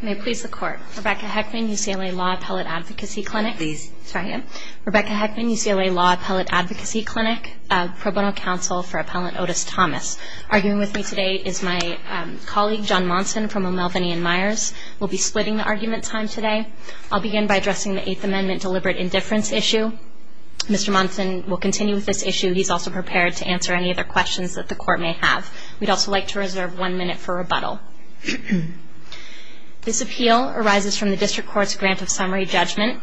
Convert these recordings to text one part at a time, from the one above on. May it please the Court. Rebecca Heckman, UCLA Law Appellate Advocacy Clinic. Rebecca Heckman, UCLA Law Appellate Advocacy Clinic. Pro Bono Counsel for Appellant Otis Thomas. Arguing with me today is my colleague John Monson from O'Melveny & Myers. We'll be splitting the argument time today. I'll begin by addressing the Eighth Amendment deliberate indifference issue. Mr. Monson will continue with this issue. He's also prepared to answer any other questions that the Court may have. We'd also like to reserve one minute for rebuttal. This appeal arises from the District Court's grant of summary judgment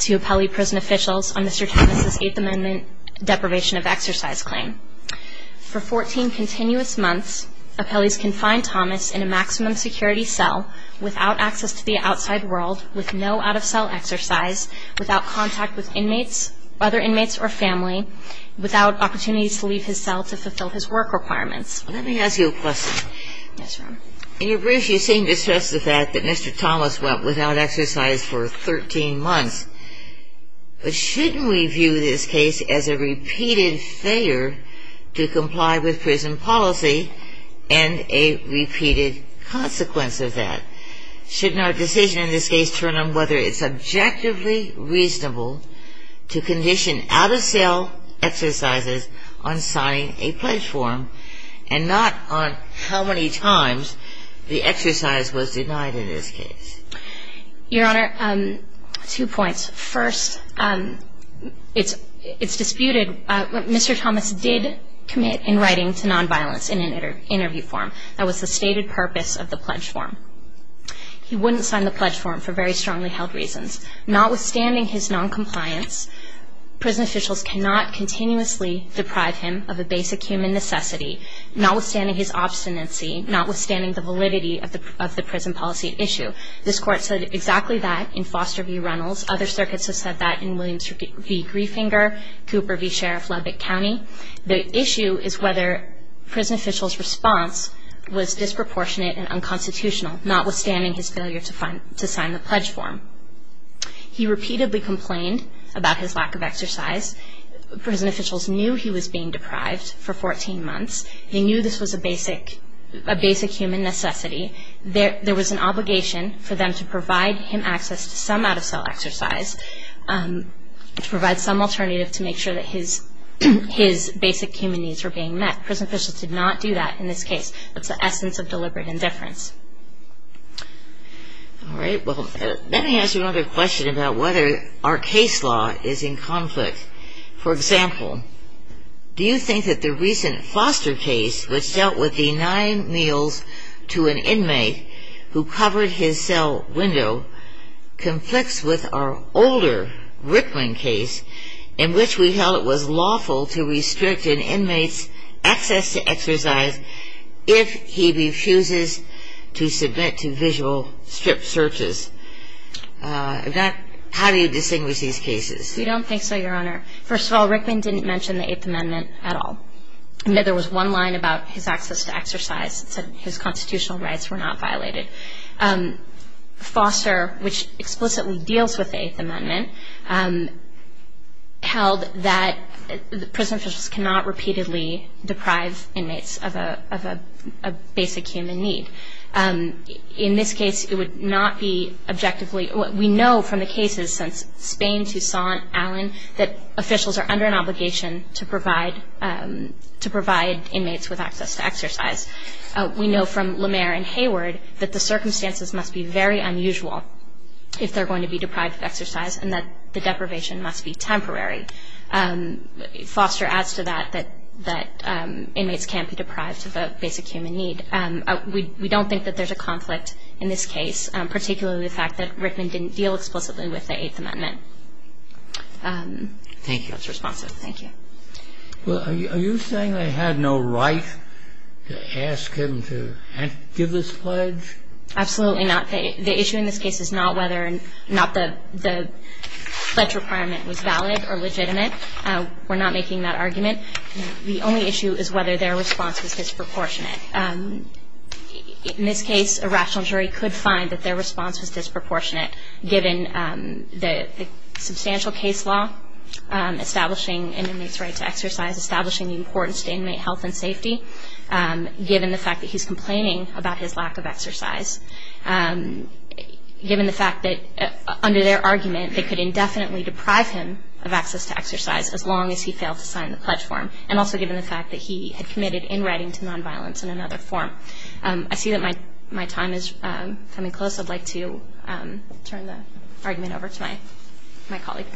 to appellee prison officials on Mr. Thomas' Eighth Amendment deprivation of exercise claim. For 14 continuous months, appellees confined Thomas in a maximum security cell without access to the outside world, with no out-of-cell exercise, without contact with other inmates or family, without opportunities to leave his cell to fulfill his work requirements. Let me ask you a question. Yes, ma'am. In your brief, you seem to stress the fact that Mr. Thomas went without exercise for 13 months. But shouldn't we view this case as a repeated failure to comply with prison policy and a repeated consequence of that? Shouldn't our decision in this case turn on whether it's objectively reasonable to condition out-of-cell exercises on signing a pledge form and not on how many times the exercise was denied in this case? Your Honor, two points. First, it's disputed. Mr. Thomas did commit in writing to nonviolence in an interview form. That was the stated purpose of the pledge form. He wouldn't sign the pledge form for very strongly held reasons. Notwithstanding his noncompliance, prison officials cannot continuously deprive him of a basic human necessity, notwithstanding his obstinacy, notwithstanding the validity of the prison policy issue. This Court said exactly that in Foster v. Reynolds. Other circuits have said that in Williams v. Griefinger, Cooper v. Sheriff Lubbock County. The issue is whether prison officials' response was disproportionate and unconstitutional, notwithstanding his failure to sign the pledge form. He repeatedly complained about his lack of exercise. Prison officials knew he was being deprived for 14 months. They knew this was a basic human necessity. There was an obligation for them to provide him access to some out-of-cell exercise, to provide some alternative to make sure that his basic human needs were being met. Prison officials did not do that in this case. That's the essence of deliberate indifference. All right. Well, let me ask you another question about whether our case law is in conflict. For example, do you think that the recent Foster case, which dealt with denying meals to an inmate who covered his cell window, conflicts with our older Rickman case, in which we held it was lawful to restrict an inmate's access to exercise if he refuses to submit to visual strip searches? How do you distinguish these cases? We don't think so, Your Honor. First of all, Rickman didn't mention the Eighth Amendment at all. There was one line about his access to exercise that said his constitutional rights were not violated. Foster, which explicitly deals with the Eighth Amendment, held that prison officials cannot repeatedly deprive inmates of a basic human need. In this case, it would not be objectively. We know from the cases since Spain, Tucson, Allen, that officials are under an obligation to provide inmates with access to exercise. We know from Lemaire and Hayward that the circumstances must be very unusual if they're going to be deprived of exercise and that the deprivation must be temporary. Foster adds to that that inmates can't be deprived of a basic human need. We don't think that there's a conflict in this case, particularly the fact that Rickman didn't deal explicitly with the Eighth Amendment. Thank you. That's responsive. Thank you. Are you saying they had no right to ask him to give this pledge? Absolutely not. The issue in this case is not whether or not the pledge requirement was valid or legitimate. We're not making that argument. The only issue is whether their response was disproportionate. In this case, a rational jury could find that their response was disproportionate given the substantial case law establishing inmates' right to exercise, establishing the importance to inmate health and safety, given the fact that he's complaining about his lack of exercise, given the fact that under their argument they could indefinitely deprive him of access to exercise as long as he failed to sign the pledge form, and also given the fact that he had committed in writing to nonviolence in another form. I see that my time is coming close. I'd like to turn the argument over to my colleague.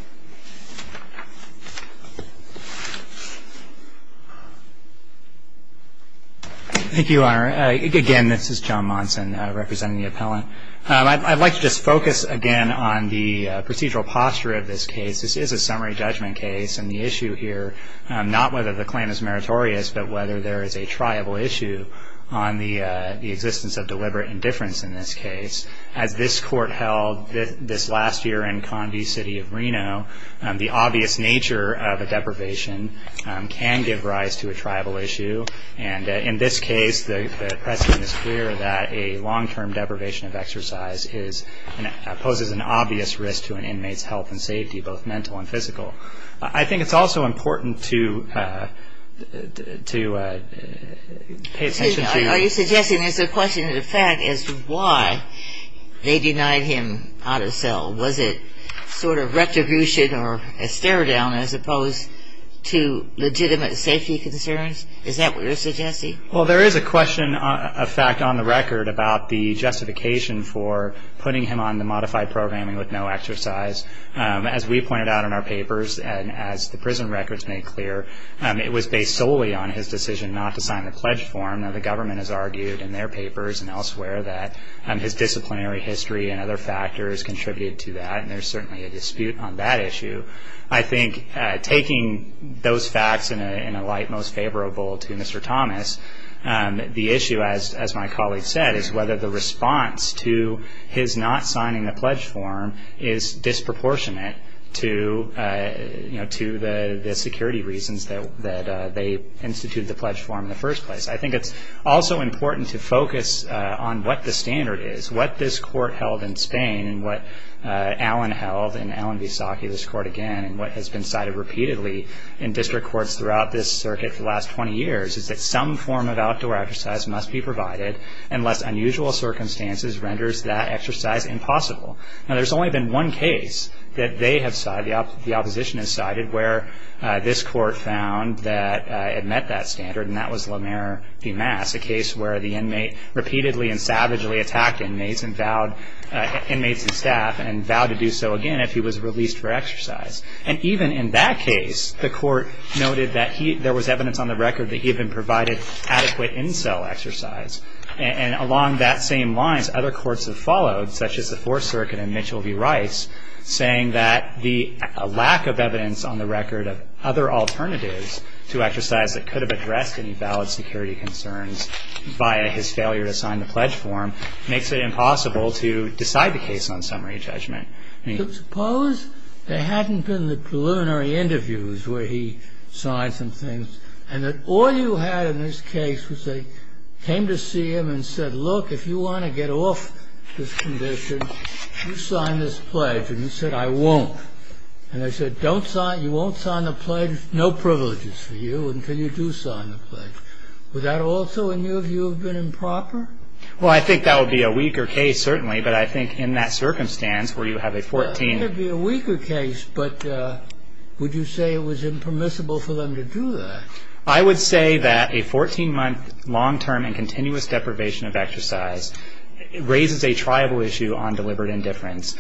Thank you, Your Honor. Again, this is John Monson representing the appellant. I'd like to just focus again on the procedural posture of this case. This is a summary judgment case, and the issue here, not whether the claim is meritorious, but whether there is a triable issue on the existence of deliberate indifference in this case. As this court held this last year in Condie City of Reno, the obvious nature of a deprivation can give rise to a triable issue, and in this case the precedent is clear that a long-term deprivation of exercise poses an obvious risk to an inmate's health and safety, both mental and physical. I think it's also important to pay attention to... Are you suggesting there's a question of the fact as to why they denied him out of cell? Was it sort of retribution or a stare-down as opposed to legitimate safety concerns? Is that what you're suggesting? Well, there is a question of fact on the record about the justification for putting him on the modified programming with no exercise. As we pointed out in our papers and as the prison records made clear, it was based solely on his decision not to sign the pledge form. Now, the government has argued in their papers and elsewhere that his disciplinary history and other factors contributed to that, and there's certainly a dispute on that issue. I think taking those facts in a light most favorable to Mr. Thomas, the issue, as my colleague said, is whether the response to his not signing the pledge form is disproportionate to the security reasons that they instituted the pledge form in the first place. I think it's also important to focus on what the standard is. What this court held in Spain and what Allen held in Allen v. Saki, this court again, and what has been cited repeatedly in district courts throughout this circuit for the last 20 years is that some form of outdoor exercise must be provided unless unusual circumstances renders that exercise impossible. Now, there's only been one case that they have cited, the opposition has cited, where this court found that it met that standard, and that was Lamer v. Mass, a case where the inmate repeatedly and savagely attacked inmates and staff and vowed to do so again if he was released for exercise. And even in that case, the court noted that there was evidence on the record that he had been provided adequate in-cell exercise. And along that same lines, other courts have followed, such as the Fourth Circuit and Mitchell v. Rice, saying that the lack of evidence on the record of other alternatives to exercise that could have addressed any valid security concerns via his failure to sign the pledge form makes it impossible to decide the case on summary judgment. Suppose there hadn't been the preliminary interviews where he signed some things and that all you had in this case was they came to see him and said, look, if you want to get off this condition, you sign this pledge. And he said, I won't. And they said, you won't sign the pledge, no privileges for you until you do sign the pledge. Would that also, in your view, have been improper? Well, I think that would be a weaker case, certainly, but I think in that circumstance where you have a 14... I would say that a 14-month long-term and continuous deprivation of exercise raises a tribal issue on deliberate indifference.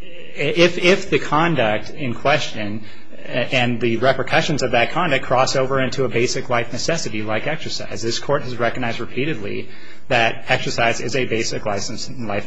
If the conduct in question and the repercussions of that conduct cross over into a basic life necessity like exercise, this Court has recognized repeatedly that exercise is a basic life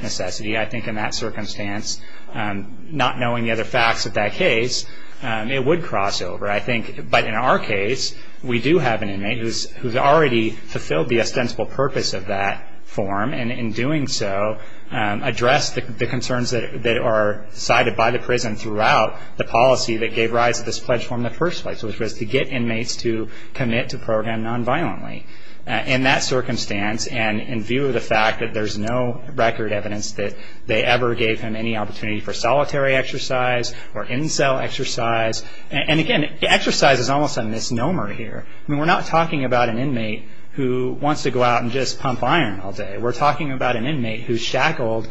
necessity. I think in that circumstance, not knowing the other facts of that case, it would cross over. But in our case, we do have an inmate who has already fulfilled the ostensible purpose of that form and in doing so addressed the concerns that are cited by the prison throughout the policy that gave rise to this pledge form in the first place, which was to get inmates to commit to program nonviolently. In that circumstance, and in view of the fact that there's no record evidence that they ever gave him any opportunity for solitary exercise or in-cell exercise, and again, exercise is almost a misnomer here. We're not talking about an inmate who wants to go out and just pump iron all day. We're talking about an inmate who's shackled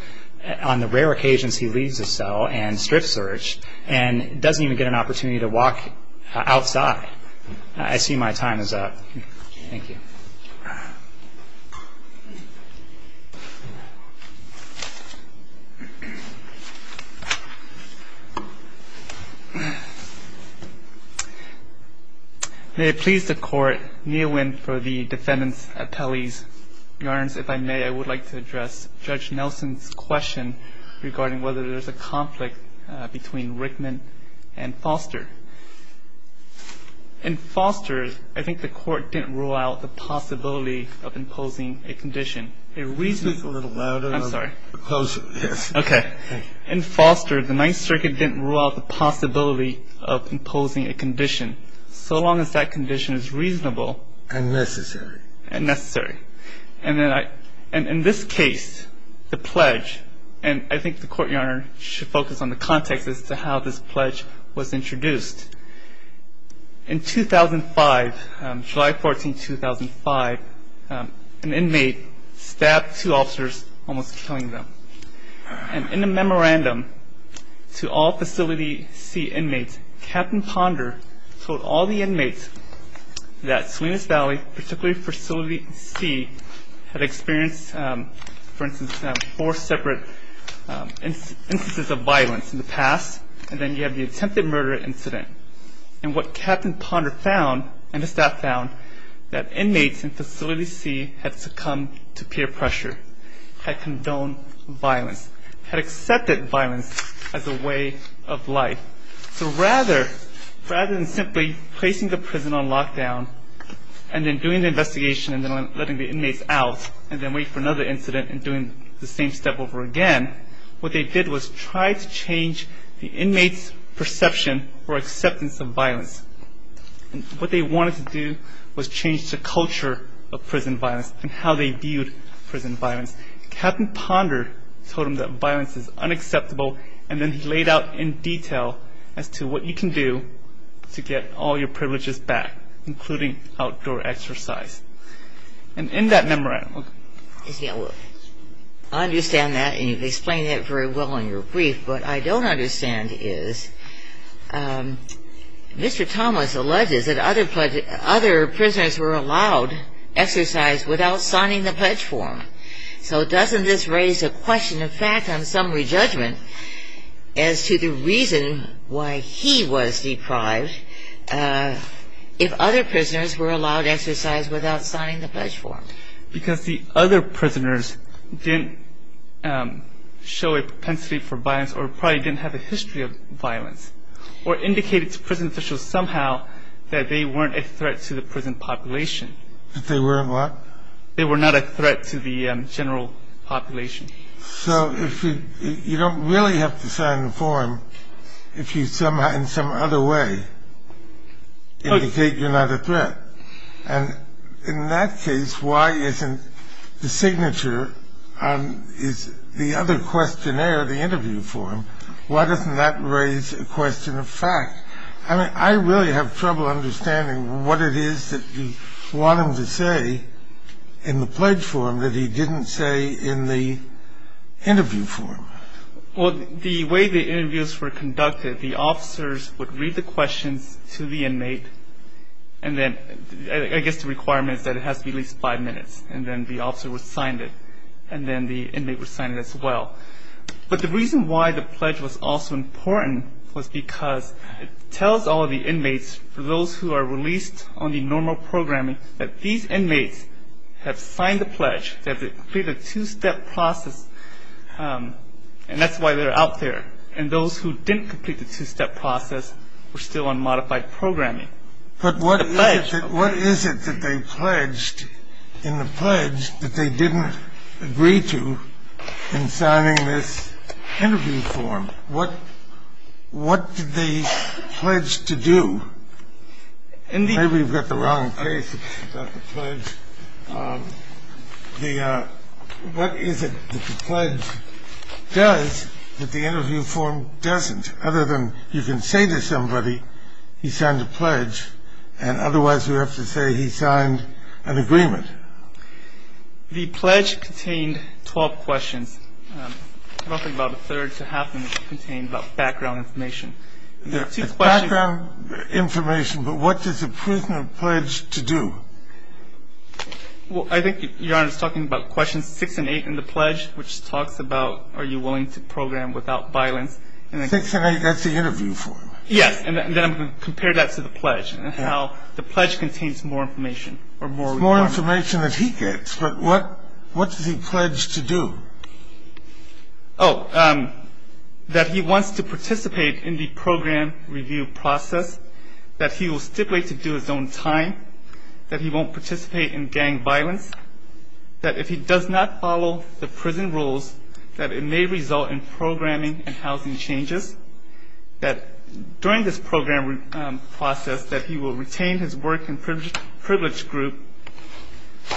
on the rare occasions he leaves the cell and strip searched and doesn't even get an opportunity to walk outside. I see my time is up. Thank you. May it please the Court, Nguyen for the defendant's appellees. Your Honor, if I may, I would like to address Judge Nelson's question regarding whether there's a conflict between Rickman and Foster. In Foster, I think the Court didn't rule out the possibility of imposing a condition. The reason is a little louder. I'm sorry. Yes. Okay. In Foster, the Ninth Circuit didn't rule out the possibility of imposing a condition so long as that condition is reasonable. And necessary. And necessary. And in this case, the pledge, and I think the Court, Your Honor, should focus on the context as to how this pledge was introduced. In 2005, July 14, 2005, an inmate stabbed two officers, almost killing them. And in a memorandum to all Facility C inmates, Captain Ponder told all the inmates that Salinas Valley, particularly Facility C, had experienced, for instance, four separate instances of violence in the past, and then you have the attempted murder incident. And what Captain Ponder found, and the staff found, that inmates in Facility C had succumbed to peer pressure, had condoned violence, had accepted violence as a way of life. So rather than simply placing the prison on lockdown and then doing the investigation and then letting the inmates out and then wait for another incident and doing the same step over again, what they did was try to change the inmates' perception or acceptance of violence. What they wanted to do was change the culture of prison violence and how they viewed prison violence. Captain Ponder told them that violence is unacceptable, and then he laid out in detail as to what you can do to get all your privileges back, including outdoor exercise. And in that memorandum... I understand that, and you've explained that very well in your brief. What I don't understand is Mr. Thomas alleges that other prisoners were allowed exercise without signing the pledge form. So doesn't this raise a question of fact on summary judgment as to the reason why he was deprived if other prisoners were allowed exercise without signing the pledge form? Because the other prisoners didn't show a propensity for violence or probably didn't have a history of violence or indicated to prison officials somehow that they weren't a threat to the prison population. That they weren't what? They were not a threat to the general population. So you don't really have to sign the form if you somehow, in some other way, indicate you're not a threat. And in that case, why isn't the signature on the other questionnaire, the interview form, why doesn't that raise a question of fact? I really have trouble understanding what it is that you want him to say in the pledge form that he didn't say in the interview form. Well, the way the interviews were conducted, the officers would read the questions to the inmate, and then I guess the requirement is that it has to be at least five minutes, and then the officer would sign it, and then the inmate would sign it as well. But the reason why the pledge was also important was because it tells all of the inmates, for those who are released on the normal programming, that these inmates have signed the pledge, they have completed a two-step process, and that's why they're out there. And those who didn't complete the two-step process were still on modified programming. But what is it that they pledged in the pledge that they didn't agree to in signing this interview form? What did they pledge to do? Maybe we've got the wrong case about the pledge. What is it that the pledge does that the interview form doesn't? The pledge contains 12 questions. I don't think about a third to half of them contain about background information. There are two questions. There's background information, but what does a prisoner pledge to do? Well, I think, Your Honor, it's talking about questions six and eight in the pledge, which talks about are you willing to program without violence. Six and eight. Six and eight. That's the interview form. Yes, and then I'm going to compare that to the pledge and how the pledge contains more information or more requirements. It's more information that he gets, but what does he pledge to do? Oh, that he wants to participate in the program review process, that he will stipulate to do his own time, that he won't participate in gang violence, that if he does not follow the prison rules, that it may result in programming and housing changes, that during this program process that he will retain his work and privilege group,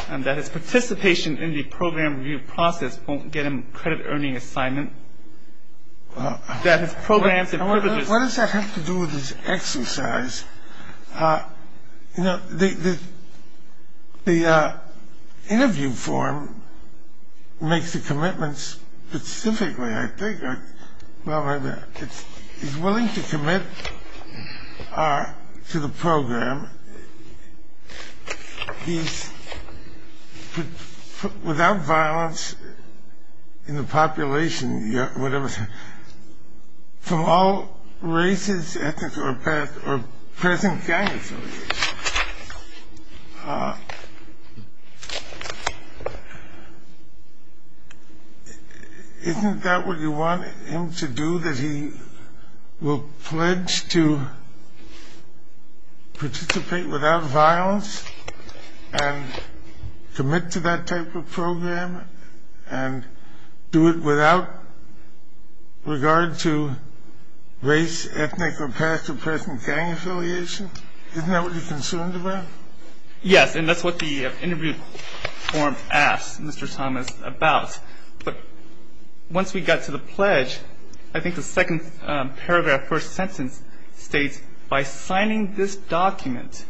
and that his participation in the program review process won't get him a credit-earning assignment, that his programs and privileges. What does that have to do with his exercise? You know, the interview form makes the commitments specifically, I think. Well, he's willing to commit to the program. He's without violence in the population, whatever. From all races, ethnics, or present gangs, isn't that what you want him to do, that he will pledge to participate without violence and commit to that type of program and do it without regard to race, ethnic, or past or present gang affiliation? Isn't that what you're concerned about? Yes, and that's what the interview form asks Mr. Thomas about. But once we got to the pledge, I think the second paragraph, first sentence states, by signing this document,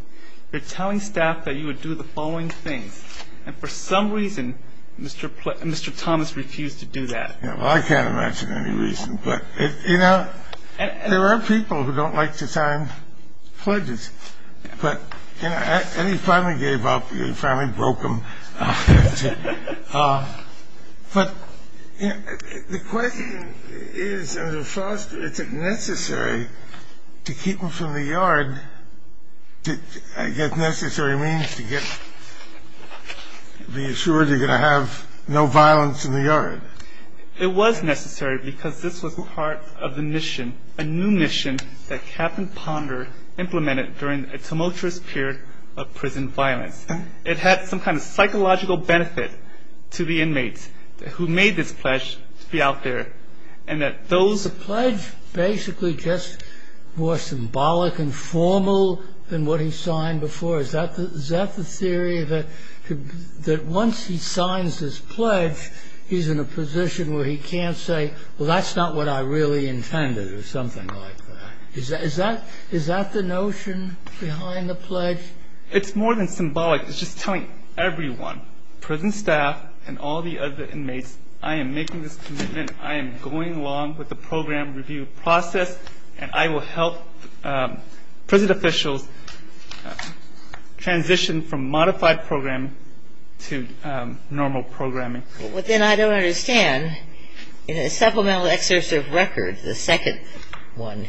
you're telling staff that you would do the following things. And for some reason, Mr. Thomas refused to do that. Yeah, well, I can't imagine any reason. But, you know, there are people who don't like to sign pledges. But, you know, and he finally gave up. He finally broke them. But the question is, is it necessary to keep him from the yard? I guess necessary means to be assured you're going to have no violence in the yard. It was necessary because this was part of the mission, a new mission that Captain Ponder implemented during a tumultuous period of prison violence. It had some kind of psychological benefit to the inmates who made this pledge to be out there. And that those... Is the pledge basically just more symbolic and formal than what he signed before? Is that the theory that once he signs his pledge, he's in a position where he can't say, well, that's not what I really intended or something like that? Is that the notion behind the pledge? It's more than symbolic. It's just telling everyone, prison staff and all the other inmates, I am making this commitment. I am going along with the program review process, and I will help prison officials transition from modified programming to normal programming. But then I don't understand. In his supplemental excursive record, the second one,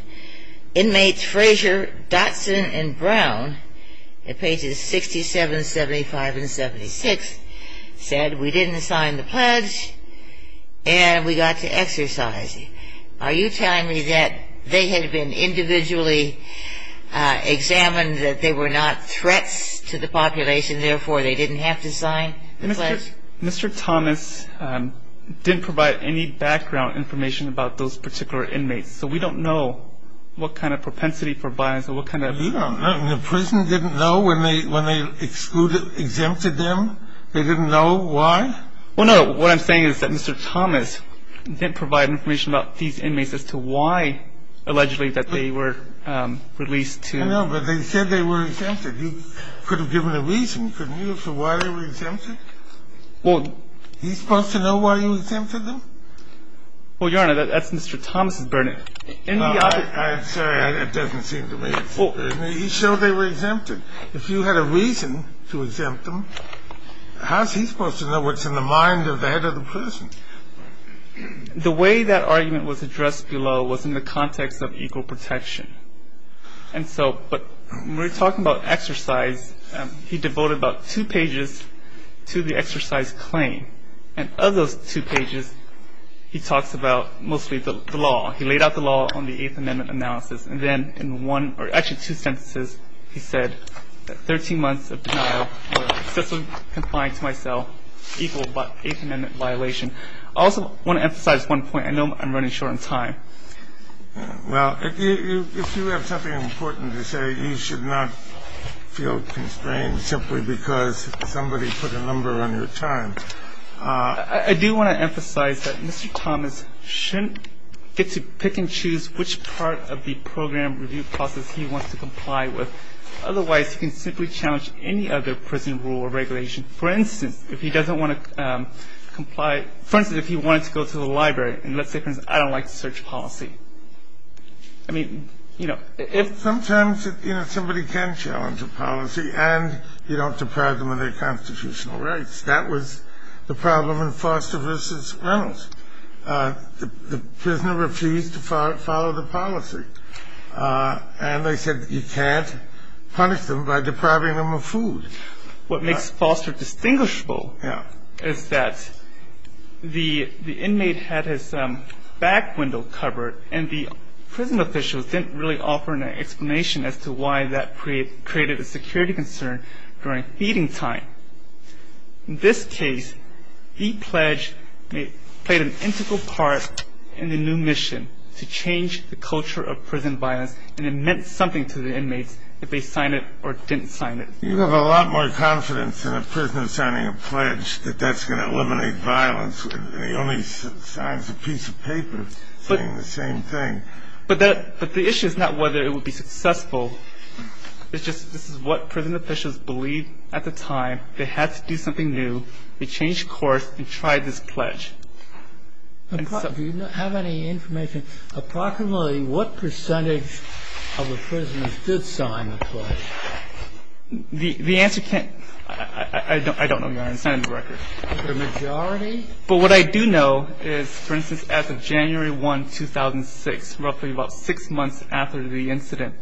inmates Frazier, Dotson, and Brown at pages 67, 75, and 76 said, we didn't sign the pledge and we got to exercise it. Are you telling me that they had been individually examined, that they were not threats to the population, therefore they didn't have to sign the pledge? Mr. Thomas didn't provide any background information about those particular inmates, so we don't know what kind of propensity for violence or what kind of- You don't know? The prison didn't know when they exempted them? They didn't know why? Well, no, what I'm saying is that Mr. Thomas didn't provide information about these inmates as to why allegedly that they were released to- I know, but they said they were exempted. He could have given a reason, couldn't he, as to why they were exempted? Well- He's supposed to know why he exempted them? Well, Your Honor, that's Mr. Thomas' burden. I'm sorry, that doesn't seem to me. He showed they were exempted. If you had a reason to exempt them, how's he supposed to know what's in the mind of the head of the prison? The way that argument was addressed below was in the context of equal protection. And so when we're talking about exercise, he devoted about two pages to the exercise claim. And of those two pages, he talks about mostly the law. He laid out the law on the Eighth Amendment analysis. And then in one-or actually two sentences, he said that 13 months of denial or successfully complying to my cell equaled the Eighth Amendment violation. I also want to emphasize one point. I know I'm running short on time. Well, if you have something important to say, you should not feel constrained simply because somebody put a number on your time. I do want to emphasize that Mr. Thomas shouldn't get to pick and choose which part of the program review process he wants to comply with. Otherwise, he can simply challenge any other prison rule or regulation. For instance, if he doesn't want to comply – for instance, if he wanted to go to the library and let's say, for instance, I don't like search policy. I mean, you know, if- Somebody can challenge a policy and you don't deprive them of their constitutional rights. That was the problem in Foster v. Reynolds. The prisoner refused to follow the policy. And they said you can't punish them by depriving them of food. What makes Foster distinguishable is that the inmate had his back window covered and the prison officials didn't really offer an explanation as to why that created a security concern during feeding time. In this case, the pledge played an integral part in the new mission to change the culture of prison violence. And it meant something to the inmates if they signed it or didn't sign it. You have a lot more confidence in a prisoner signing a pledge that that's going to eliminate violence. The only sign is a piece of paper saying the same thing. But the issue is not whether it would be successful. It's just this is what prison officials believed at the time. They had to do something new. They changed course and tried this pledge. Do you have any information approximately what percentage of the prisoners did sign the pledge? The answer can't – I don't know, Your Honor. It's not in the record. The majority? But what I do know is, for instance, as of January 1, 2006, roughly about six months after the incident,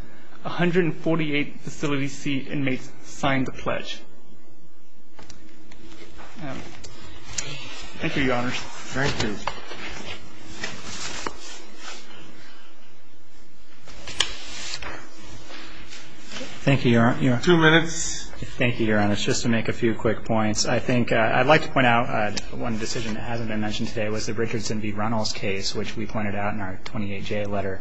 148 facility seat inmates signed the pledge. Thank you, Your Honor. Thank you. Thank you, Your Honor. Two minutes. Thank you, Your Honor. Just to make a few quick points. I'd like to point out one decision that hasn't been mentioned today was the Richardson v. Runnels case, which we pointed out in our 28J letter.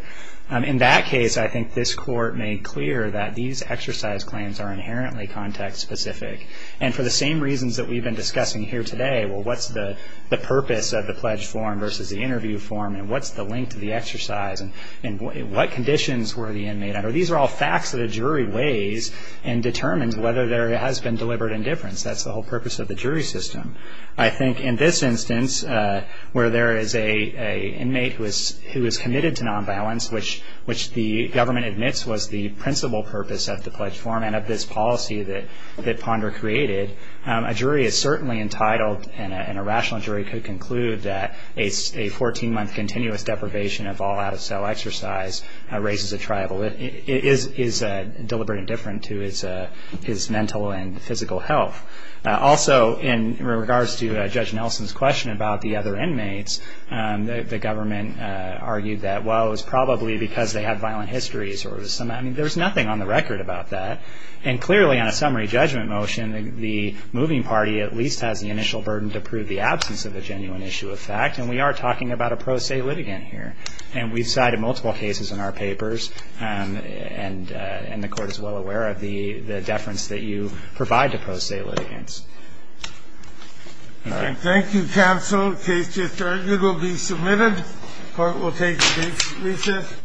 In that case, I think this Court made clear that these exercise claims are inherently context-specific. And for the same reasons that we've been discussing here today, what's the purpose of the pledge form versus the interview form, and what's the link to the exercise, and what conditions were the inmates under? These are all facts that a jury weighs and determines whether there has been deliberate indifference. That's the whole purpose of the jury system. I think in this instance, where there is an inmate who is committed to nonviolence, which the government admits was the principal purpose of the pledge form and of this policy that Ponder created, a jury is certainly entitled and a rational jury could conclude that a 14-month continuous deprivation of all out-of-cell exercise raises a triable. It is deliberate indifference to his mental and physical health. Also, in regards to Judge Nelson's question about the other inmates, the government argued that, well, it was probably because they have violent histories. I mean, there's nothing on the record about that. And clearly on a summary judgment motion, the moving party at least has the initial burden to prove the absence of a genuine issue of fact, and we are talking about a pro se litigant here. And we cited multiple cases in our papers, and the court is well aware of the deference that you provide to pro se litigants. Thank you. Thank you, counsel. Case just argued will be submitted. Court will take recess.